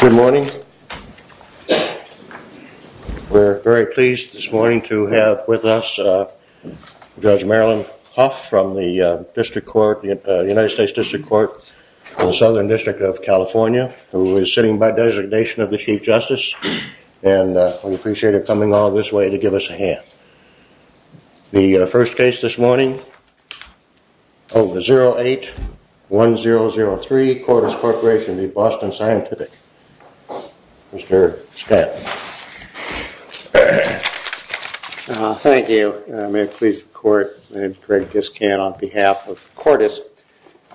Good morning, we're very pleased this morning to have with us Judge Marilyn Huff from the District Court, the United States District Court in the Southern District of California who is sitting by designation of the Chief Justice and we appreciate her coming all this way to give us a hand. The first case this morning, 08-1003, Cordis Corporation v. Boston Scientific. Mr. Stanton. Thank you. May it please the Court, my name is Greg Discan on behalf of Cordis.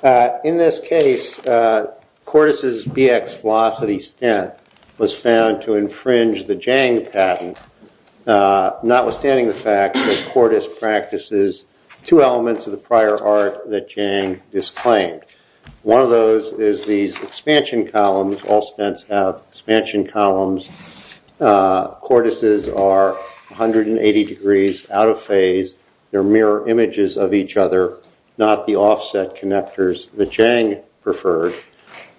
In this case, Cordis' BX Velocity stent was found to infringe the Jang patent, notwithstanding the fact that Cordis practices two elements of the prior art that Jang disclaimed. One of those is these expansion columns, all stents have expansion columns. Cordises are 180 degrees out of phase, they're mirror images of each other, not the offset connectors that Jang preferred.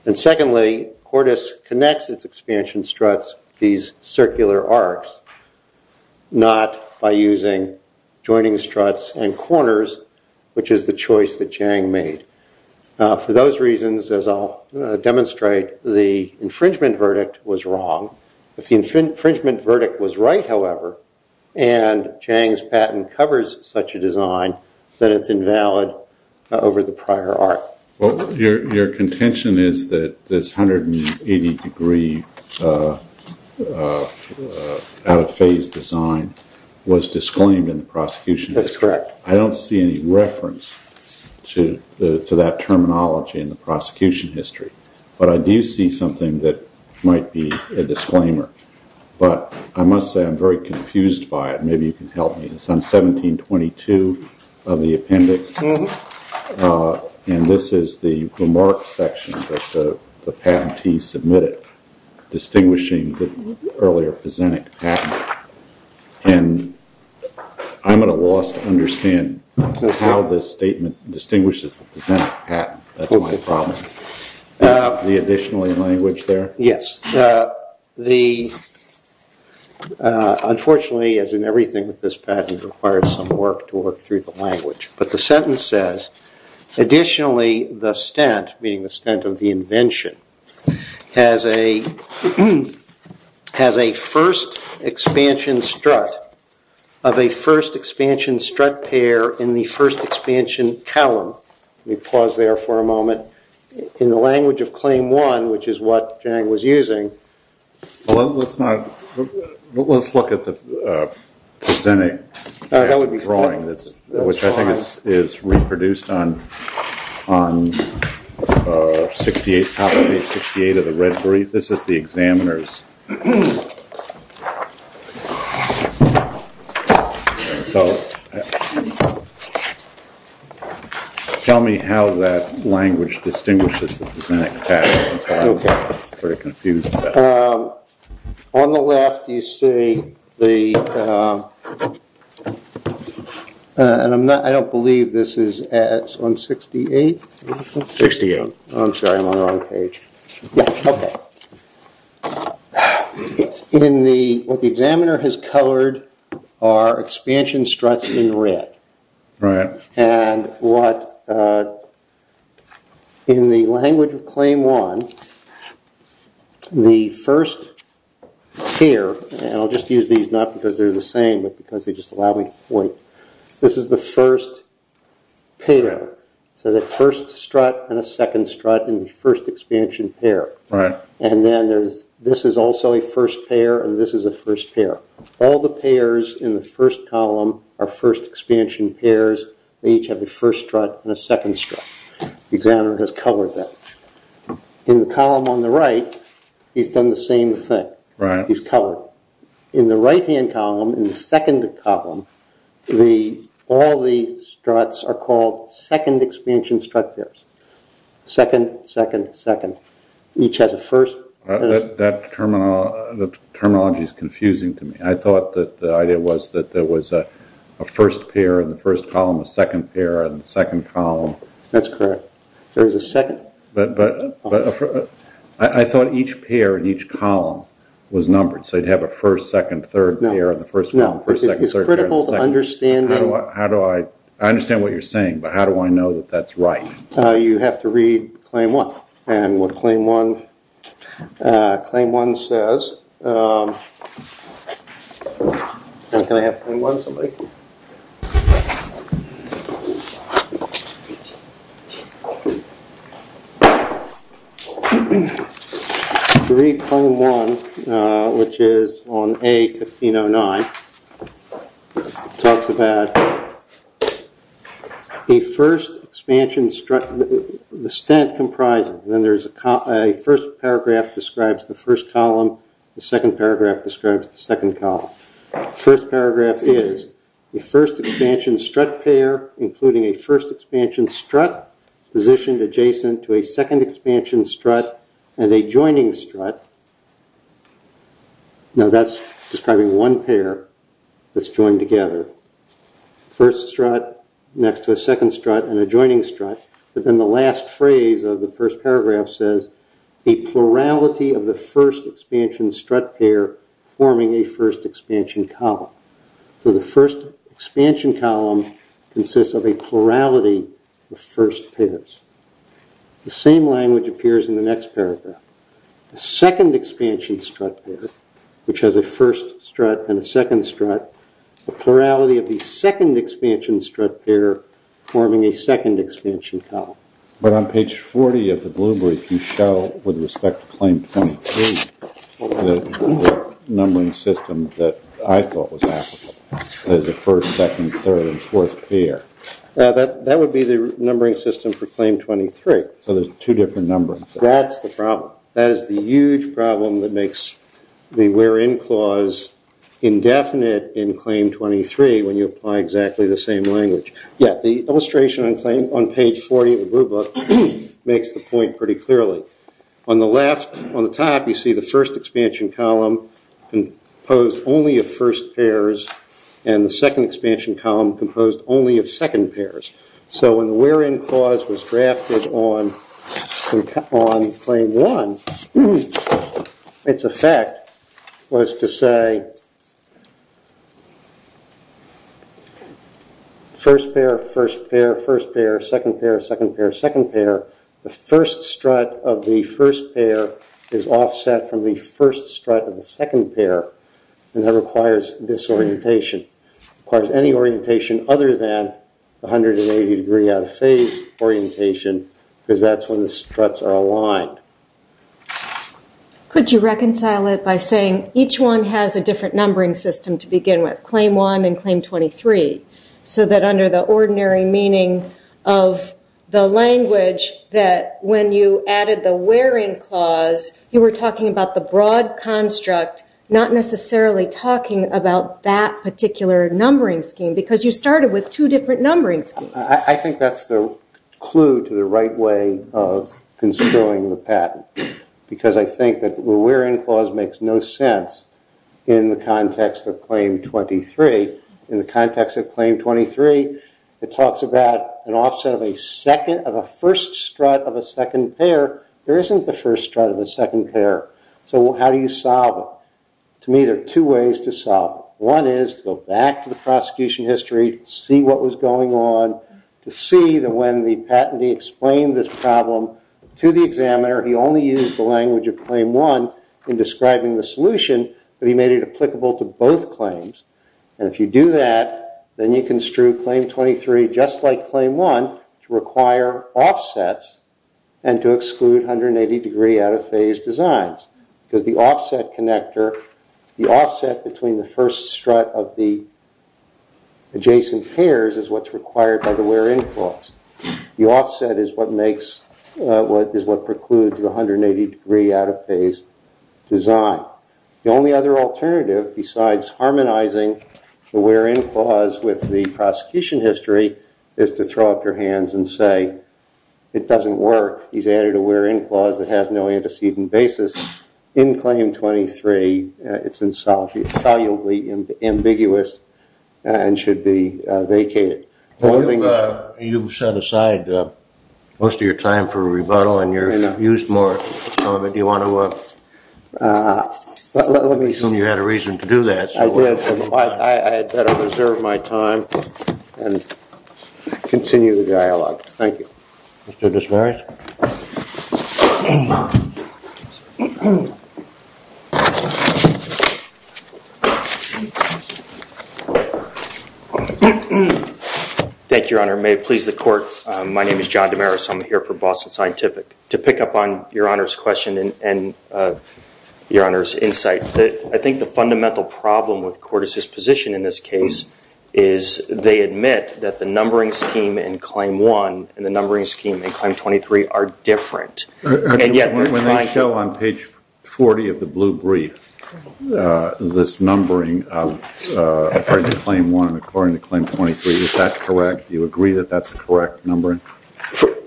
And secondly, Cordis connects its expansion struts with these circular arcs, not by using joining struts and corners, which is the choice that Jang made. For those reasons, as I'll demonstrate, the infringement verdict was wrong. If the infringement verdict was right, however, and Jang's patent covers such a design, then it's invalid over the prior art. Your contention is that this 180 degree out of phase design was disclaimed in the prosecution? That's correct. I don't see any reference to that terminology in the prosecution history, but I do see something that might be a disclaimer. But I must say I'm very confused by it, maybe you can help me. It's on 1722 of the appendix, and this is the remarks section that the patentee submitted, distinguishing the earlier Pezenek patent. And I'm at a loss to understand how this statement distinguishes the Pezenek patent, that's my problem. The additionally language there? Yes. Unfortunately, as in everything with this patent, it requires some work to work through the language. But the sentence says, additionally the stent, meaning the stent of the invention, has a first expansion strut of a first expansion strut pair in the first expansion column. Let me pause there for a moment. In the language of claim one, which is what Jang was using. Let's look at the Pezenek drawing, which I think is reproduced on page 68 of the red brief. This is the examiner's. Tell me how that language distinguishes the Pezenek patent. On the left you see the, and I don't believe this is on 68, I'm sorry, I'm on the wrong page. What the examiner has colored are expansion struts in red. And what, in the language of claim one, the first pair, and I'll just use these not because they're the same but because they just allow me to point. This is the first pair, so the first strut and a second strut in the first expansion pair. And then there's, this is also a first pair and this is a first pair. All the pairs in the first column are first expansion pairs. They each have a first strut and a second strut. The examiner has colored that. In the column on the right, he's done the same thing. He's colored. In the right-hand column, in the second column, all the struts are called second expansion strut pairs. Second, second, second. Each has a first. That terminology is confusing to me. I thought that the idea was that there was a first pair in the first column, a second pair in the second column. That's correct. There is a second. I thought each pair in each column was numbered, so you'd have a first, second, third pair in the first column, first, second, third pair in the second. It's critical understanding. I understand what you're saying, but how do I know that that's right? You have to read claim one. And what claim one says, can I have claim one, somebody? Read claim one, which is on A-1509. It talks about the first expansion strut, the stent comprising. Then there's a first paragraph describes the first column. The second paragraph describes the second column. First paragraph is the first expansion strut pair, including a first expansion strut positioned adjacent to a second expansion strut and a joining strut. Now that's describing one pair that's joined together. First strut next to a second strut and a joining strut. But then the last phrase of the first paragraph says, a plurality of the first expansion strut pair forming a first expansion column. So the first expansion column consists of a plurality of first pairs. The same language appears in the next paragraph. The second expansion strut pair, which has a first strut and a second strut. The plurality of the second expansion strut pair forming a second expansion column. But on page 40 of the blue brief you show, with respect to claim 23, the numbering system that I thought was applicable. There's a first, second, third, and fourth pair. That would be the numbering system for claim 23. So there's two different numbering systems. That's the problem. That is the huge problem that makes the where in clause indefinite in claim 23 when you apply exactly the same language. Yeah, the illustration on page 40 of the blue book makes the point pretty clearly. On the left, on the top, you see the first expansion column composed only of first pairs and the second expansion column composed only of second pairs. So when the where in clause was drafted on claim 1, its effect was to say, first pair, first pair, first pair, second pair, second pair, second pair. The first strut of the first pair is offset from the first strut of the second pair. And that requires disorientation. It requires any orientation other than 180 degree out of phase orientation because that's when the struts are aligned. Could you reconcile it by saying each one has a different numbering system to begin with, claim 1 and claim 23, so that under the ordinary meaning of the language that when you added the where in clause, you were talking about the broad construct, not necessarily talking about that particular numbering scheme because you started with two different numbering schemes? I think that's the clue to the right way of construing the patent because I think that the where in clause makes no sense in the context of claim 23. In the context of claim 23, it talks about an offset of a first strut of a second pair. There isn't the first strut of a second pair. So how do you solve it? To me, there are two ways to solve it. One is to go back to the prosecution history, see what was going on, to see that when the patentee explained this problem to the examiner, he only used the language of claim 1 in describing the solution, but he made it applicable to both claims. And if you do that, then you construe claim 23 just like claim 1 to require offsets and to exclude 180-degree out-of-phase designs because the offset connector, the offset between the first strut of the adjacent pairs is what's required by the where in clause. The offset is what precludes the 180-degree out-of-phase design. The only other alternative besides harmonizing the where in clause with the prosecution history is to throw up your hands and say it doesn't work. He's added a where in clause that has no antecedent basis. In claim 23, it's insolubly ambiguous and should be vacated. You've set aside most of your time for rebuttal and you've used more of it. Do you want to assume you had a reason to do that? I had better reserve my time and continue the dialogue. Thank you. Mr. Desmarais. Thank you, Your Honor. May it please the court. My name is John Desmarais. I'm here for Boston Scientific. To pick up on Your Honor's question and Your Honor's insight, I think the fundamental problem with court is this position in this case is they admit that the numbering scheme in claim 1 and the numbering scheme in claim 23 are different. When they show on page 40 of the blue brief this numbering according to claim 1 and according to claim 23, is that correct? Do you agree that that's a correct numbering?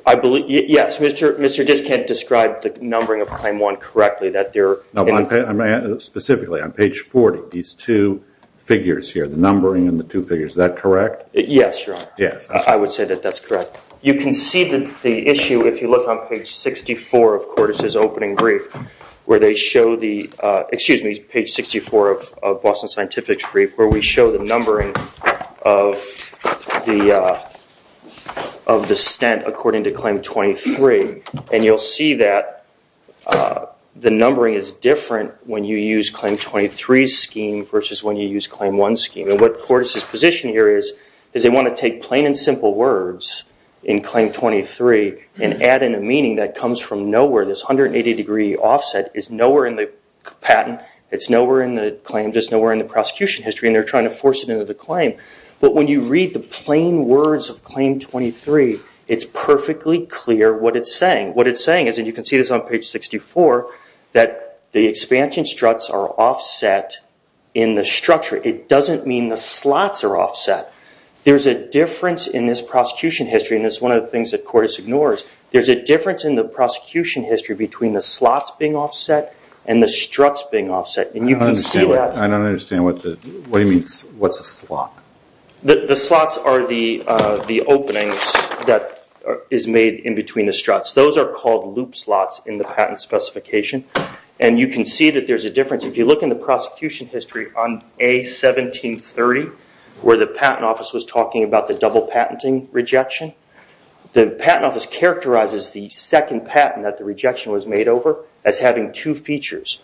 Yes, Mr. Desmarais described the numbering of claim 1 correctly. Specifically on page 40, these two figures here, the numbering and the two figures, is that correct? Yes, Your Honor. I would say that that's correct. You can see the issue if you look on page 64 of Cordes' opening brief where they show the, excuse me, page 64 of Boston Scientific's brief where we show the numbering of the stent according to claim 23. You'll see that the numbering is different when you use claim 23's scheme versus when you use claim 1's scheme. What Cordes' position here is, is they want to take plain and simple words in claim 23 and add in a meaning that comes from nowhere. This 180 degree offset is nowhere in the patent, it's nowhere in the claim, just nowhere in the prosecution history and they're trying to force it into the claim. But when you read the plain words of claim 23, it's perfectly clear what it's saying. What it's saying is, and you can see this on page 64, that the expansion struts are offset in the structure. It doesn't mean the slots are offset. There's a difference in this prosecution history and it's one of the things that Cordes ignores. There's a difference in the prosecution history between the slots being offset and the struts being offset. I don't understand what he means, what's a slot? The slots are the openings that is made in between the struts. Those are called loop slots in the patent specification and you can see that there's a difference. If you look in the prosecution history on A1730, where the patent office was talking about the double patenting rejection, the patent office characterizes the second patent that the rejection was made over as having two features,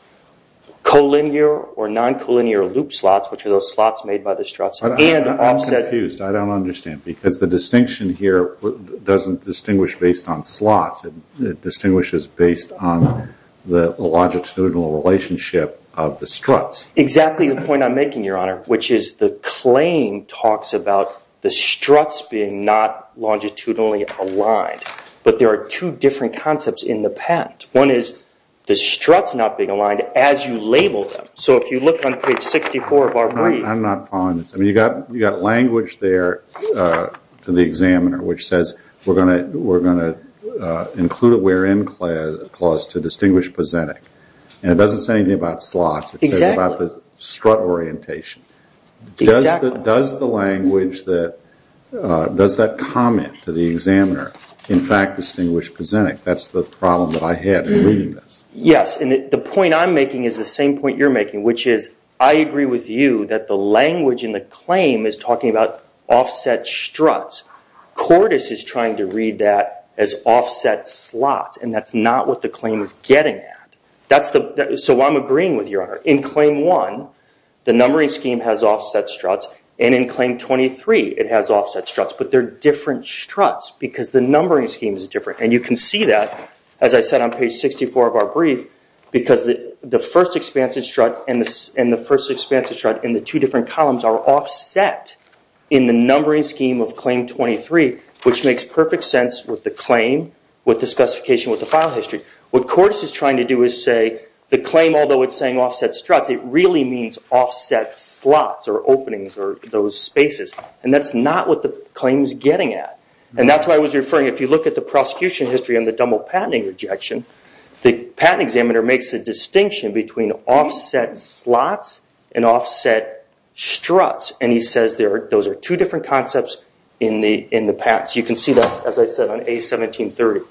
collinear or non-collinear loop slots, which are those slots made by the struts. I'm confused, I don't understand, because the distinction here doesn't distinguish based on slots, it distinguishes based on the longitudinal relationship of the struts. Exactly the point I'm making, Your Honor, which is the claim talks about the struts being not longitudinally aligned, but there are two different concepts in the patent. One is the struts not being aligned as you label them. So if you look on page 64 of our brief... I'm not following this. You've got language there to the examiner which says, we're going to include a where-in clause to distinguish pysenic, and it doesn't say anything about slots, it says about the strut orientation. Exactly. Does that comment to the examiner in fact distinguish pysenic? That's the problem that I had in reading this. Yes, and the point I'm making is the same point you're making, which is I agree with you that the language in the claim is talking about offset struts. Cordes is trying to read that as offset slots, and that's not what the claim is getting at. So I'm agreeing with you, Your Honor. In claim 1, the numbering scheme has offset struts, and in claim 23 it has offset struts, but they're different struts because the numbering scheme is different. And you can see that, as I said on page 64 of our brief, because the first expansive strut and the first expansive strut in the two different columns are offset in the numbering scheme of claim 23, which makes perfect sense with the claim, with the specification, with the file history. What Cordes is trying to do is say the claim, although it's saying offset struts, it really means offset slots or openings or those spaces, and that's not what the claim is getting at. And that's why I was referring, if you look at the prosecution history on the double patenting rejection, the patent examiner makes a distinction between offset slots and offset struts, and he says those are two different concepts in the patents. You can see that, as I said, on A1730.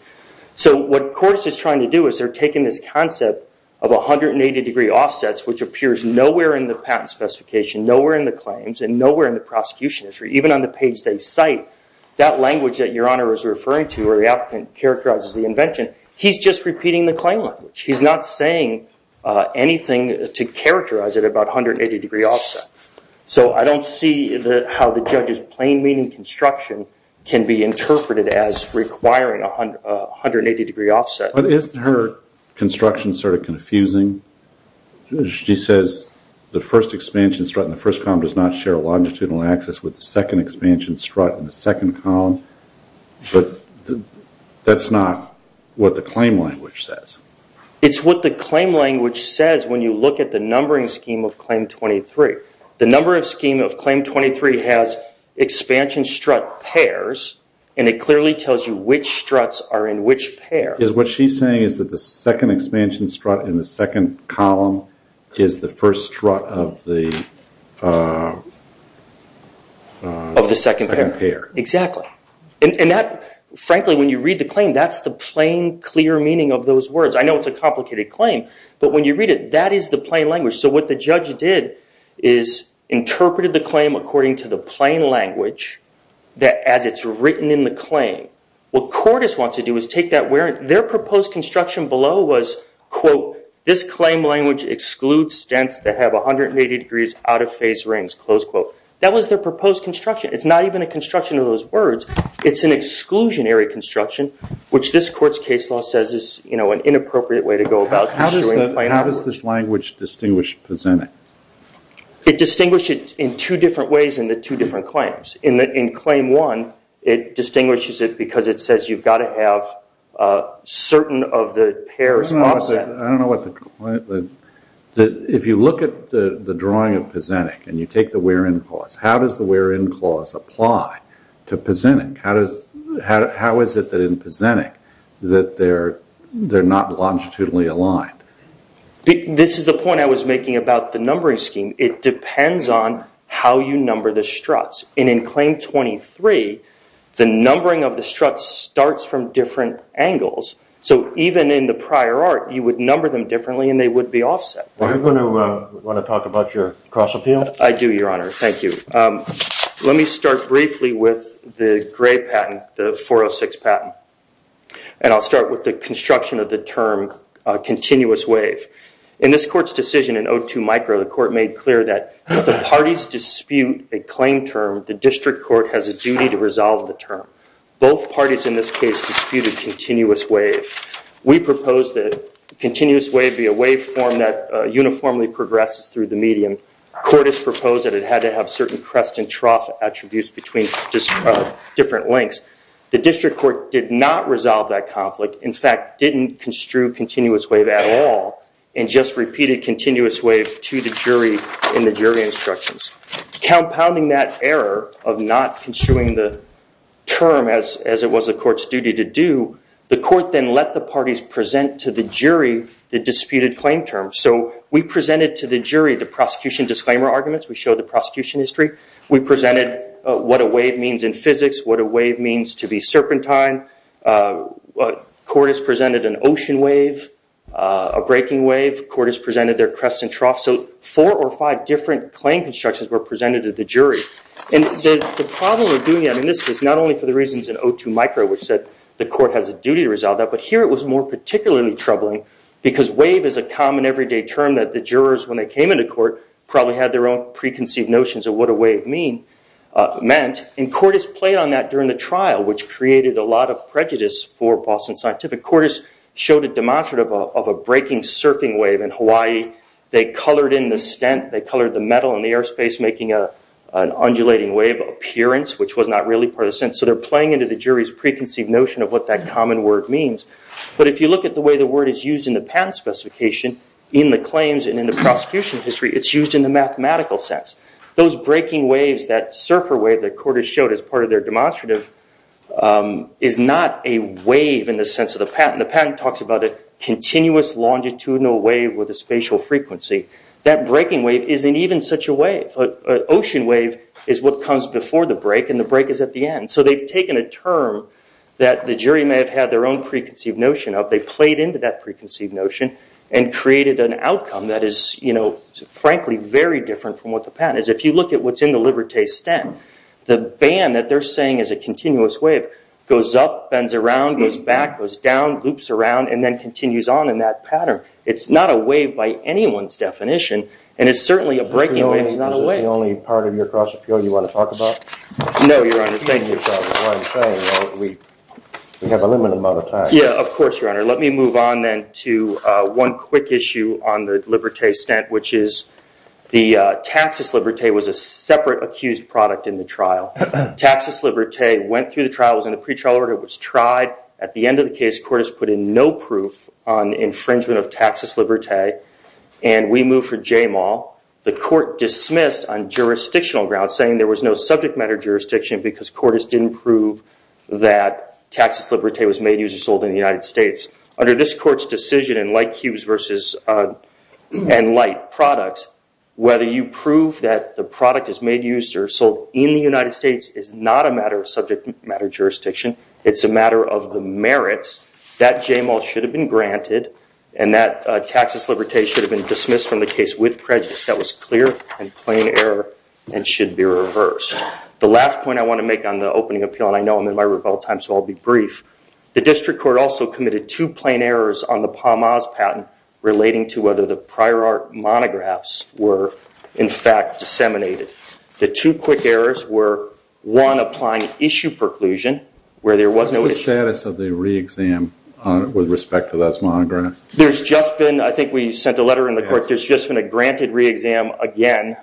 So what Cordes is trying to do is they're taking this concept of 180-degree offsets, which appears nowhere in the patent specification, nowhere in the claims, and nowhere in the prosecution history. Even on the page they cite, that language that Your Honor is referring to where the applicant characterizes the invention, he's just repeating the claim language. He's not saying anything to characterize it about 180-degree offset. So I don't see how the judge's plain meaning construction can be interpreted as requiring a 180-degree offset. But isn't her construction sort of confusing? She says the first expansion strut in the first column does not share a longitudinal axis with the second expansion strut in the second column. But that's not what the claim language says. It's what the claim language says when you look at the numbering scheme of Claim 23. The numbering scheme of Claim 23 has expansion strut pairs, and it clearly tells you which struts are in which pair. What she's saying is that the second expansion strut in the second column is the first strut of the second pair. Exactly. And frankly, when you read the claim, that's the plain, clear meaning of those words. I know it's a complicated claim, but when you read it, that is the plain language. So what the judge did is interpreted the claim according to the plain language as it's written in the claim. What Cordes wants to do is take that. Their proposed construction below was, quote, this claim language excludes stents that have 180 degrees out-of-phase rings, close quote. That was their proposed construction. It's not even a construction of those words. It's an exclusionary construction, which this court's case law says is an inappropriate way to go about construing plain language. How does this language distinguish Pezenek? It distinguished it in two different ways in the two different claims. In Claim 1, it distinguishes it because it says you've got to have certain of the pairs offset. I don't know what the claim – if you look at the drawing of Pezenek and you take the where-in clause, how does the where-in clause apply to Pezenek? How is it that in Pezenek that they're not longitudinally aligned? This is the point I was making about the numbering scheme. It depends on how you number the struts. And in Claim 23, the numbering of the struts starts from different angles. So even in the prior art, you would number them differently and they would be offset. Are you going to want to talk about your cross appeal? I do, Your Honor. Thank you. Let me start briefly with the gray patent, the 406 patent. And I'll start with the construction of the term continuous wave. In this court's decision in 02 micro, the court made clear that if the parties dispute a claim term, the district court has a duty to resolve the term. Both parties in this case disputed continuous wave. We proposed that continuous wave be a wave form that uniformly progresses through the medium. Court has proposed that it had to have certain crest and trough attributes between different lengths. The district court did not resolve that conflict. In fact, didn't construe continuous wave at all and just repeated continuous wave to the jury in the jury instructions. Compounding that error of not construing the term as it was the court's duty to do, the court then let the parties present to the jury the disputed claim term. So we presented to the jury the prosecution disclaimer arguments. We showed the prosecution history. We presented what a wave means in physics, what a wave means to be serpentine. Court has presented an ocean wave, a breaking wave. Court has presented their crest and trough. The problem with doing that in this case, not only for the reasons in O2 micro, which said the court has a duty to resolve that, but here it was more particularly troubling because wave is a common everyday term that the jurors, when they came into court, probably had their own preconceived notions of what a wave meant. And court has played on that during the trial, which created a lot of prejudice for Boston Scientific. Court has showed a demonstrative of a breaking surfing wave in Hawaii. They colored in the stent. They colored the metal in the airspace, making an undulating wave appearance, which was not really part of the sentence. So they're playing into the jury's preconceived notion of what that common word means. But if you look at the way the word is used in the patent specification, in the claims and in the prosecution history, it's used in the mathematical sense. Those breaking waves, that surfer wave that court has showed as part of their demonstrative, is not a wave in the sense of the patent. The patent talks about a continuous longitudinal wave with a spatial frequency. That breaking wave isn't even such a wave. An ocean wave is what comes before the break, and the break is at the end. So they've taken a term that the jury may have had their own preconceived notion of. They played into that preconceived notion and created an outcome that is, frankly, very different from what the patent is. If you look at what's in the Liberté stent, the band that they're saying is a continuous wave goes up, bends around, goes back, goes down, loops around, and then continues on in that pattern. It's not a wave by anyone's definition, and it's certainly a breaking wave. It's not a wave. Is this the only part of your cross-appeal you want to talk about? No, Your Honor. Thank you. We have a limited amount of time. Yeah, of course, Your Honor. Let me move on then to one quick issue on the Liberté stent, which is the Taxus Liberté was a separate accused product in the trial. Taxus Liberté went through the trial, was in a pretrial order, was tried. At the end of the case, court has put in no proof on infringement of Taxus Liberté, and we move for Jamal. The court dismissed on jurisdictional grounds saying there was no subject matter jurisdiction because court has didn't prove that Taxus Liberté was made, used, or sold in the United States. Under this court's decision in Light Cubes and Light Products, whether you prove that the product is made, used, or sold in the United States is not a matter of subject matter jurisdiction. It's a matter of the merits that Jamal should have been granted and that Taxus Liberté should have been dismissed from the case with prejudice. That was clear and plain error and should be reversed. The last point I want to make on the opening appeal, and I know I'm in my rebuttal time, so I'll be brief. The district court also committed two plain errors on the PAMAS patent relating to whether the prior art monographs were, in fact, disseminated. The two quick errors were, one, applying issue preclusion where there was no issue. What's the status of the re-exam with respect to those monographs? There's just been, I think we sent a letter in the court, there's just been a granted re-exam again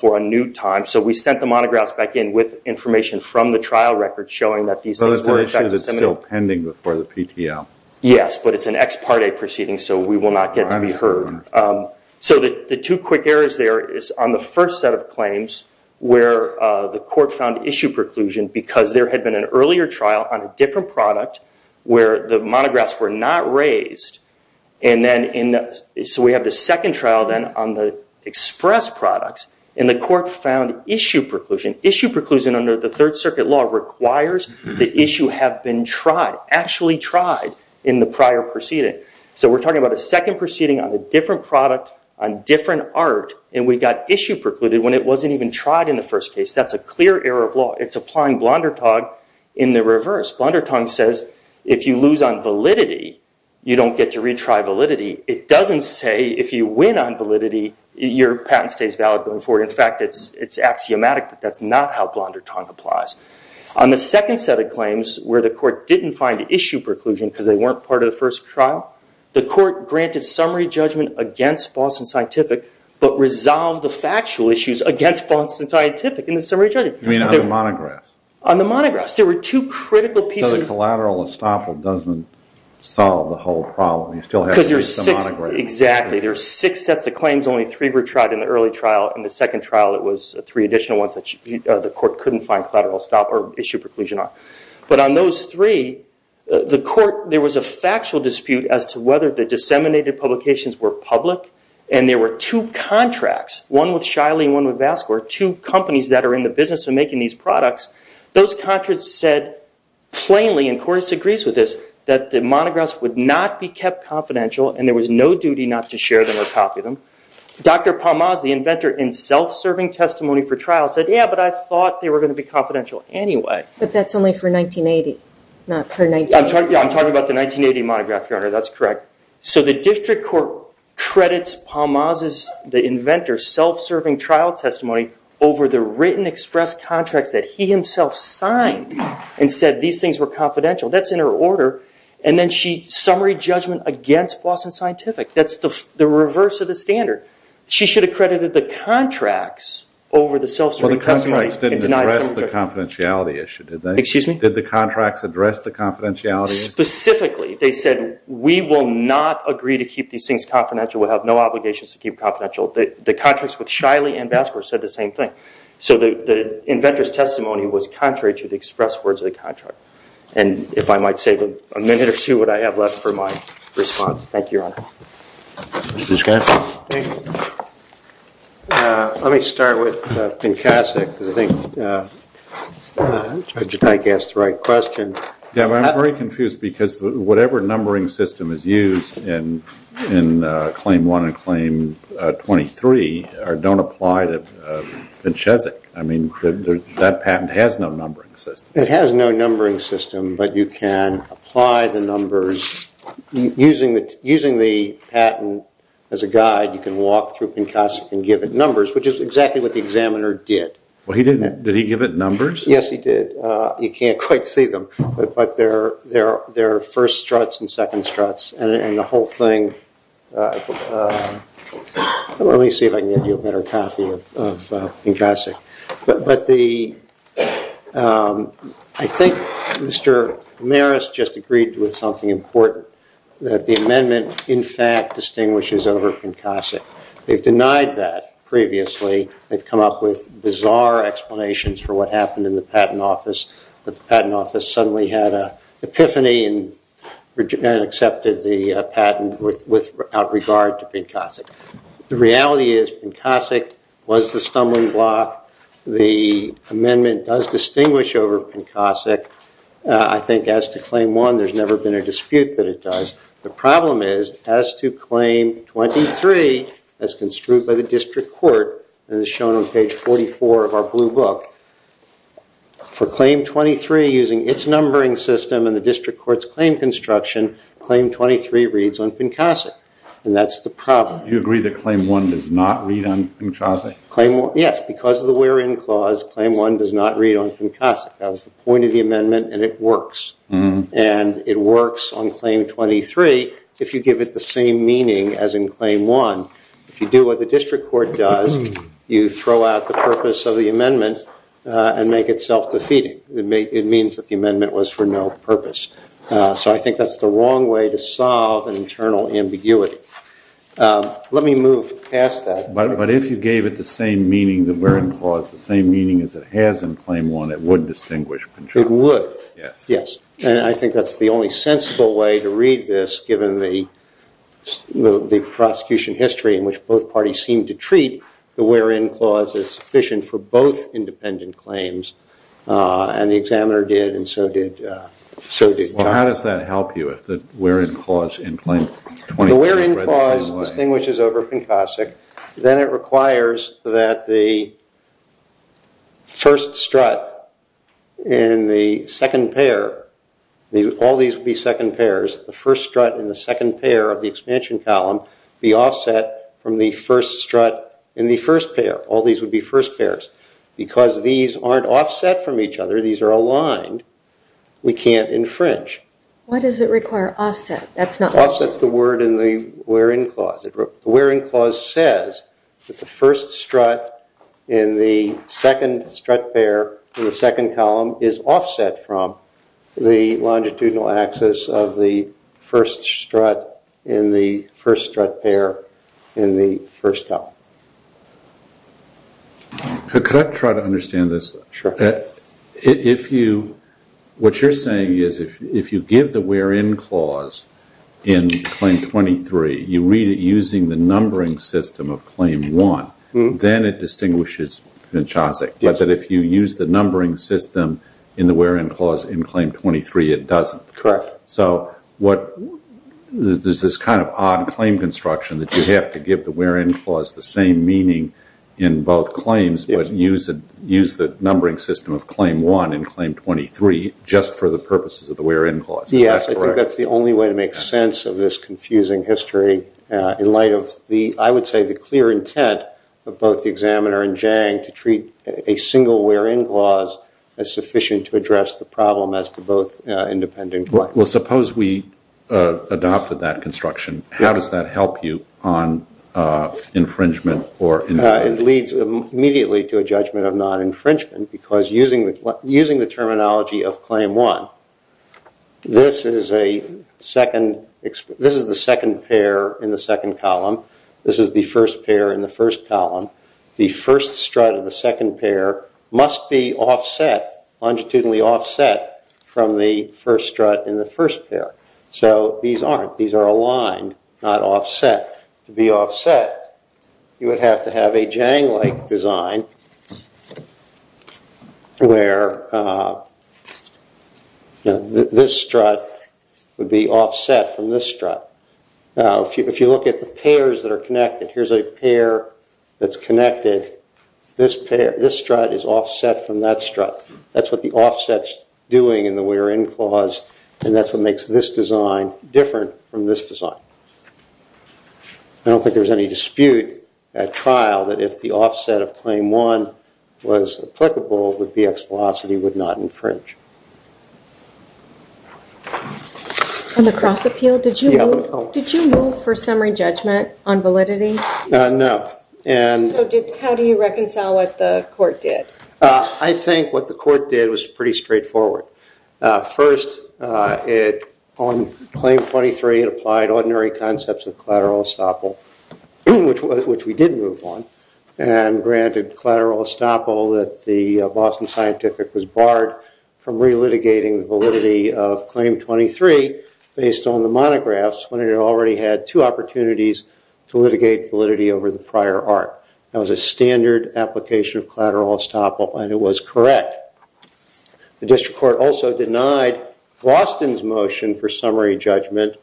for a new time, so we sent the monographs back in with information from the trial record showing that these things were in fact disseminated. But it's an issue that's still pending before the PTL. Yes, but it's an ex parte proceeding, so we will not get to be heard. So the two quick errors there is on the first set of claims where the court found issue preclusion because there had been an earlier trial on a different product where the monographs were not raised. So we have the second trial then on the express products, and the court found issue preclusion. Issue preclusion under the Third Circuit law requires the issue have been tried, actually tried in the prior proceeding. So we're talking about a second proceeding on a different product, on different art, and we got issue precluded when it wasn't even tried in the first case. That's a clear error of law. It's applying Blondertongue in the reverse. Blondertongue says if you lose on validity, you don't get to retry validity. It doesn't say if you win on validity, your patent stays valid going forward. In fact, it's axiomatic that that's not how Blondertongue applies. On the second set of claims where the court didn't find issue preclusion because they weren't part of the first trial, the court granted summary judgment against Boston Scientific, but resolved the factual issues against Boston Scientific in the summary judgment. You mean on the monographs? On the monographs. There were two critical pieces. So the collateral estoppel doesn't solve the whole problem. You still have to use the monographs. Exactly. There are six sets of claims. Only three were tried in the early trial. In the second trial, it was three additional ones that the court couldn't find collateral estoppel or issue preclusion on. But on those three, there was a factual dispute as to whether the disseminated publications were public. And there were two contracts, one with Shiley and one with Vasco, two companies that are in the business of making these products. Those contracts said plainly, and Cordes agrees with this, that the monographs would not be kept confidential and there was no duty not to share them or copy them. Dr. Palmaz, the inventor in self-serving testimony for trial, said, yeah, but I thought they were going to be confidential anyway. But that's only for 1980, not her 1980s. Yeah, I'm talking about the 1980 monograph, Your Honor. That's correct. So the district court credits Palmaz's, the inventor's, self-serving trial testimony over the written express contracts that he himself signed and said these things were confidential. That's in her order. And then summary judgment against Boston Scientific. That's the reverse of the standard. She should have credited the contracts over the self-serving testimony. The contracts didn't address the confidentiality issue, did they? Excuse me? Did the contracts address the confidentiality issue? Specifically, they said, we will not agree to keep these things confidential. We'll have no obligations to keep confidential. The contracts with Shiley and Vasco said the same thing. So the inventor's testimony was contrary to the express words of the contract. And if I might save a minute or two, what I have left for my response. Thank you, Your Honor. Mr. Schreiner. Thank you. Let me start with Vincasek because I think Judge Dyke asked the right question. I'm very confused because whatever numbering system is used in Claim 1 and Claim 23 don't apply to Vincesek. I mean, that patent has no numbering system. It has no numbering system, but you can apply the numbers using the patent and as a guide you can walk through Vincesek and give it numbers, which is exactly what the examiner did. Well, did he give it numbers? Yes, he did. You can't quite see them, but there are first struts and second struts. And the whole thing, let me see if I can get you a better copy of Vincesek. But I think Mr. Ramirez just agreed with something important, that the amendment in fact distinguishes over Vincesek. They've denied that previously. They've come up with bizarre explanations for what happened in the patent office, that the patent office suddenly had an epiphany and accepted the patent without regard to Vincesek. The reality is Vincesek was the stumbling block. The amendment does distinguish over Vincesek. I think as to Claim 1, there's never been a dispute that it does. The problem is as to Claim 23, as construed by the district court, and it's shown on page 44 of our blue book, for Claim 23 using its numbering system and the district court's claim construction, Claim 23 reads on Vincesek, and that's the problem. You agree that Claim 1 does not read on Vincesek? Yes, because of the wherein clause, Claim 1 does not read on Vincesek. That was the point of the amendment, and it works. And it works on Claim 23 if you give it the same meaning as in Claim 1. If you do what the district court does, you throw out the purpose of the amendment and make it self-defeating. It means that the amendment was for no purpose. So I think that's the wrong way to solve an internal ambiguity. Let me move past that. But if you gave it the same meaning, the wherein clause, the same meaning as it has in Claim 1, it would distinguish. It would. Yes. And I think that's the only sensible way to read this given the prosecution history in which both parties seem to treat the wherein clause as sufficient for both independent claims, and the examiner did, and so did Congress. Well, how does that help you if the wherein clause in Claim 23 is read the same way? If the wherein clause distinguishes over Vincesek, then it requires that the first strut in the second pair, all these would be second pairs, the first strut in the second pair of the expansion column be offset from the first strut in the first pair. All these would be first pairs. Because these aren't offset from each other, these are aligned, we can't infringe. Why does it require offset? Offset is the word in the wherein clause. The wherein clause says that the first strut in the second strut pair in the second column is offset from the longitudinal axis of the first strut in the first strut pair in the first column. Could I try to understand this? Sure. What you're saying is if you give the wherein clause in Claim 23, you read it using the numbering system of Claim 1, then it distinguishes Vincesek, but that if you use the numbering system in the wherein clause in Claim 23, it doesn't. Correct. So there's this kind of odd claim construction that you have to give the wherein clause the same meaning in both claims but use the numbering system of Claim 1 in Claim 23 just for the purposes of the wherein clause. Yes, I think that's the only way to make sense of this confusing history in light of, I would say, the clear intent of both the examiner and Jang to treat a single wherein clause as sufficient to address the problem as to both independent claims. Well, suppose we adopted that construction. How does that help you on infringement? It leads immediately to a judgment of non-infringement because using the terminology of Claim 1, this is the second pair in the second column. This is the first pair in the first column. The first strut of the second pair must be offset, longitudinally offset, from the first strut in the first pair. So these aren't. These are aligned, not offset. To be offset, you would have to have a Jang-like design where this strut would be offset from this strut. If you look at the pairs that are connected, here's a pair that's connected. This strut is offset from that strut. That's what the offset's doing in the wherein clause, and that's what makes this design different from this design. I don't think there's any dispute at trial that if the offset of Claim 1 was applicable, that BX Velocity would not infringe. On the cross-appeal, did you move for summary judgment on validity? No. How do you reconcile what the court did? I think what the court did was pretty straightforward. First, on Claim 23, it applied ordinary concepts of collateral estoppel, which we did move on, and granted collateral estoppel that the Boston Scientific was barred from relitigating the validity of Claim 23 based on the monographs when it already had two opportunities to litigate validity over the prior art. That was a standard application of collateral estoppel, and it was correct. The district court also denied Boston's motion for summary judgment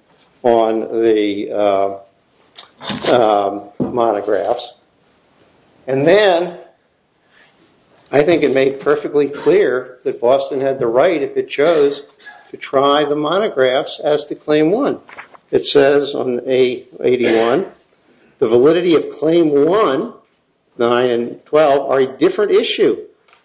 on the monographs. And then I think it made perfectly clear that Boston had the right, if it chose, to try the monographs as to Claim 1. It says on A81, the validity of Claim 1, 9, and 12 are a different issue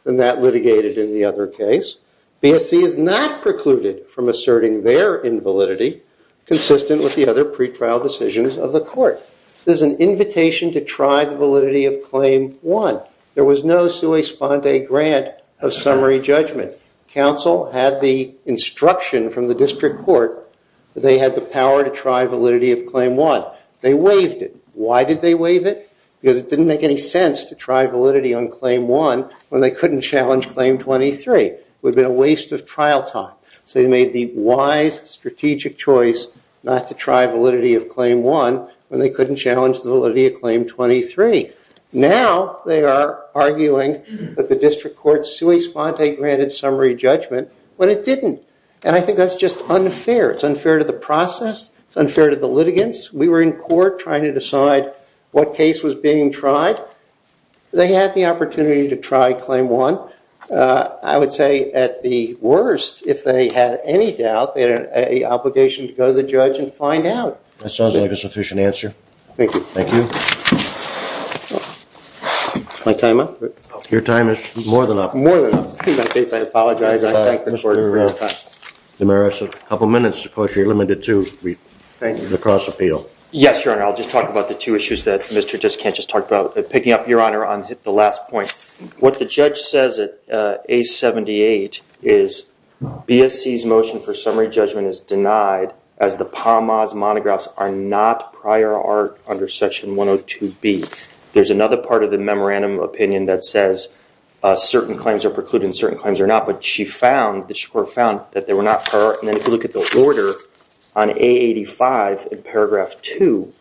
than that litigated in the other case. BSC is not precluded from asserting their invalidity consistent with the other pretrial decisions of the court. This is an invitation to try the validity of Claim 1. There was no sua sponde grant of summary judgment. Counsel had the instruction from the district court that they had the power to try validity of Claim 1. They waived it. Why did they waive it? Because it didn't make any sense to try validity on Claim 1 when they couldn't challenge Claim 23. It would have been a waste of trial time. So they made the wise, strategic choice not to try validity of Claim 1 when they couldn't challenge the validity of Claim 23. Now they are arguing that the district court sua sponde granted summary judgment when it didn't. And I think that's just unfair. It's unfair to the process. It's unfair to the litigants. We were in court trying to decide what case was being tried. They had the opportunity to try Claim 1. I would say at the worst, if they had any doubt, they had an obligation to go to the judge and find out. That sounds like a sufficient answer. Thank you. Thank you. Is my time up? Your time is more than up. More than up. In that case, I apologize. I thank the court for your time. Mr. DeMaris, a couple minutes. Of course, you're limited to the cross appeal. Yes, Your Honor. I'll just talk about the two issues that Mr. Descant just talked about. Picking up, Your Honor, on the last point, what the judge says at A78 is BSC's motion for summary judgment is denied as the PAMAS monographs are not prior art under Section 102B. There's another part of the memorandum of opinion that says certain claims are precluded and certain claims are not, but the court found that they were not prior art. Then if you look at the order on A85 in Paragraph 2,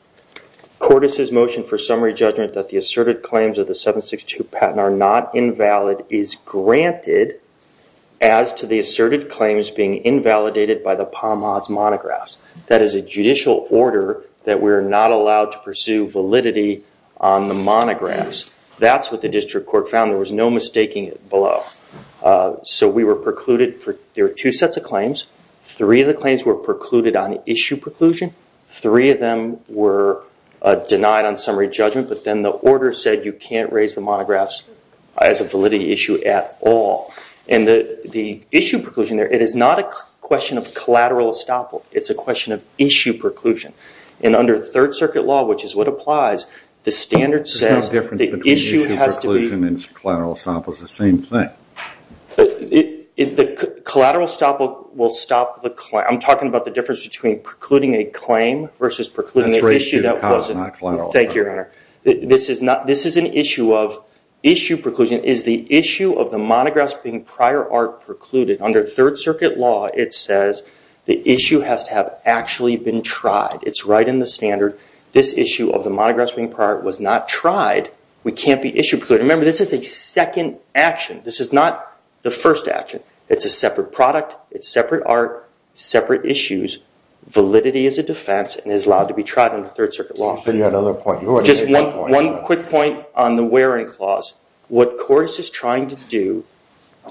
Cordes' motion for summary judgment that the asserted claims of the 762 patent are not invalid is granted as to the asserted claims being invalidated by the PAMAS monographs. That is a judicial order that we're not allowed to pursue validity on the monographs. That's what the district court found. There was no mistaking it below. So we were precluded. There were two sets of claims. Three of the claims were precluded on issue preclusion. Three of them were denied on summary judgment, but then the order said you can't raise the monographs as a validity issue at all. And the issue preclusion there, it is not a question of collateral estoppel. It's a question of issue preclusion. And under Third Circuit law, which is what applies, the standard says the issue has to be- There's no difference between issue preclusion and collateral estoppel. It's the same thing. The collateral estoppel will stop the claim. I'm talking about the difference between precluding a claim versus precluding an issue that wasn't- This is an issue of- Issue preclusion is the issue of the monographs being prior art precluded. Under Third Circuit law, it says the issue has to have actually been tried. It's right in the standard. This issue of the monographs being prior art was not tried. We can't be issue precluded. Remember, this is a second action. This is not the first action. It's a separate product. It's separate art, separate issues. Validity is a defense and is allowed to be tried under Third Circuit law. Just one quick point on the wearing clause. What court is trying to do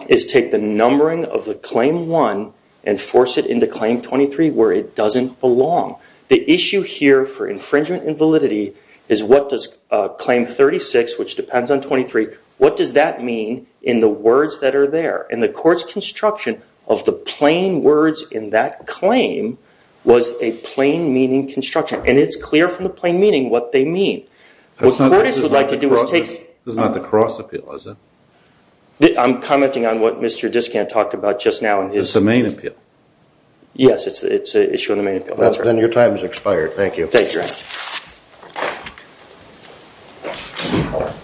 is take the numbering of the Claim 1 and force it into Claim 23 where it doesn't belong. The issue here for infringement and validity is what does Claim 36, which depends on 23, what does that mean in the words that are there? And the court's construction of the plain words in that claim was a plain meaning construction. And it's clear from the plain meaning what they mean. What court is would like to do is take… This is not the cross appeal, is it? I'm commenting on what Mr. Diskant talked about just now. It's the main appeal. Yes, it's an issue in the main appeal. Then your time has expired. Thank you. Thank you.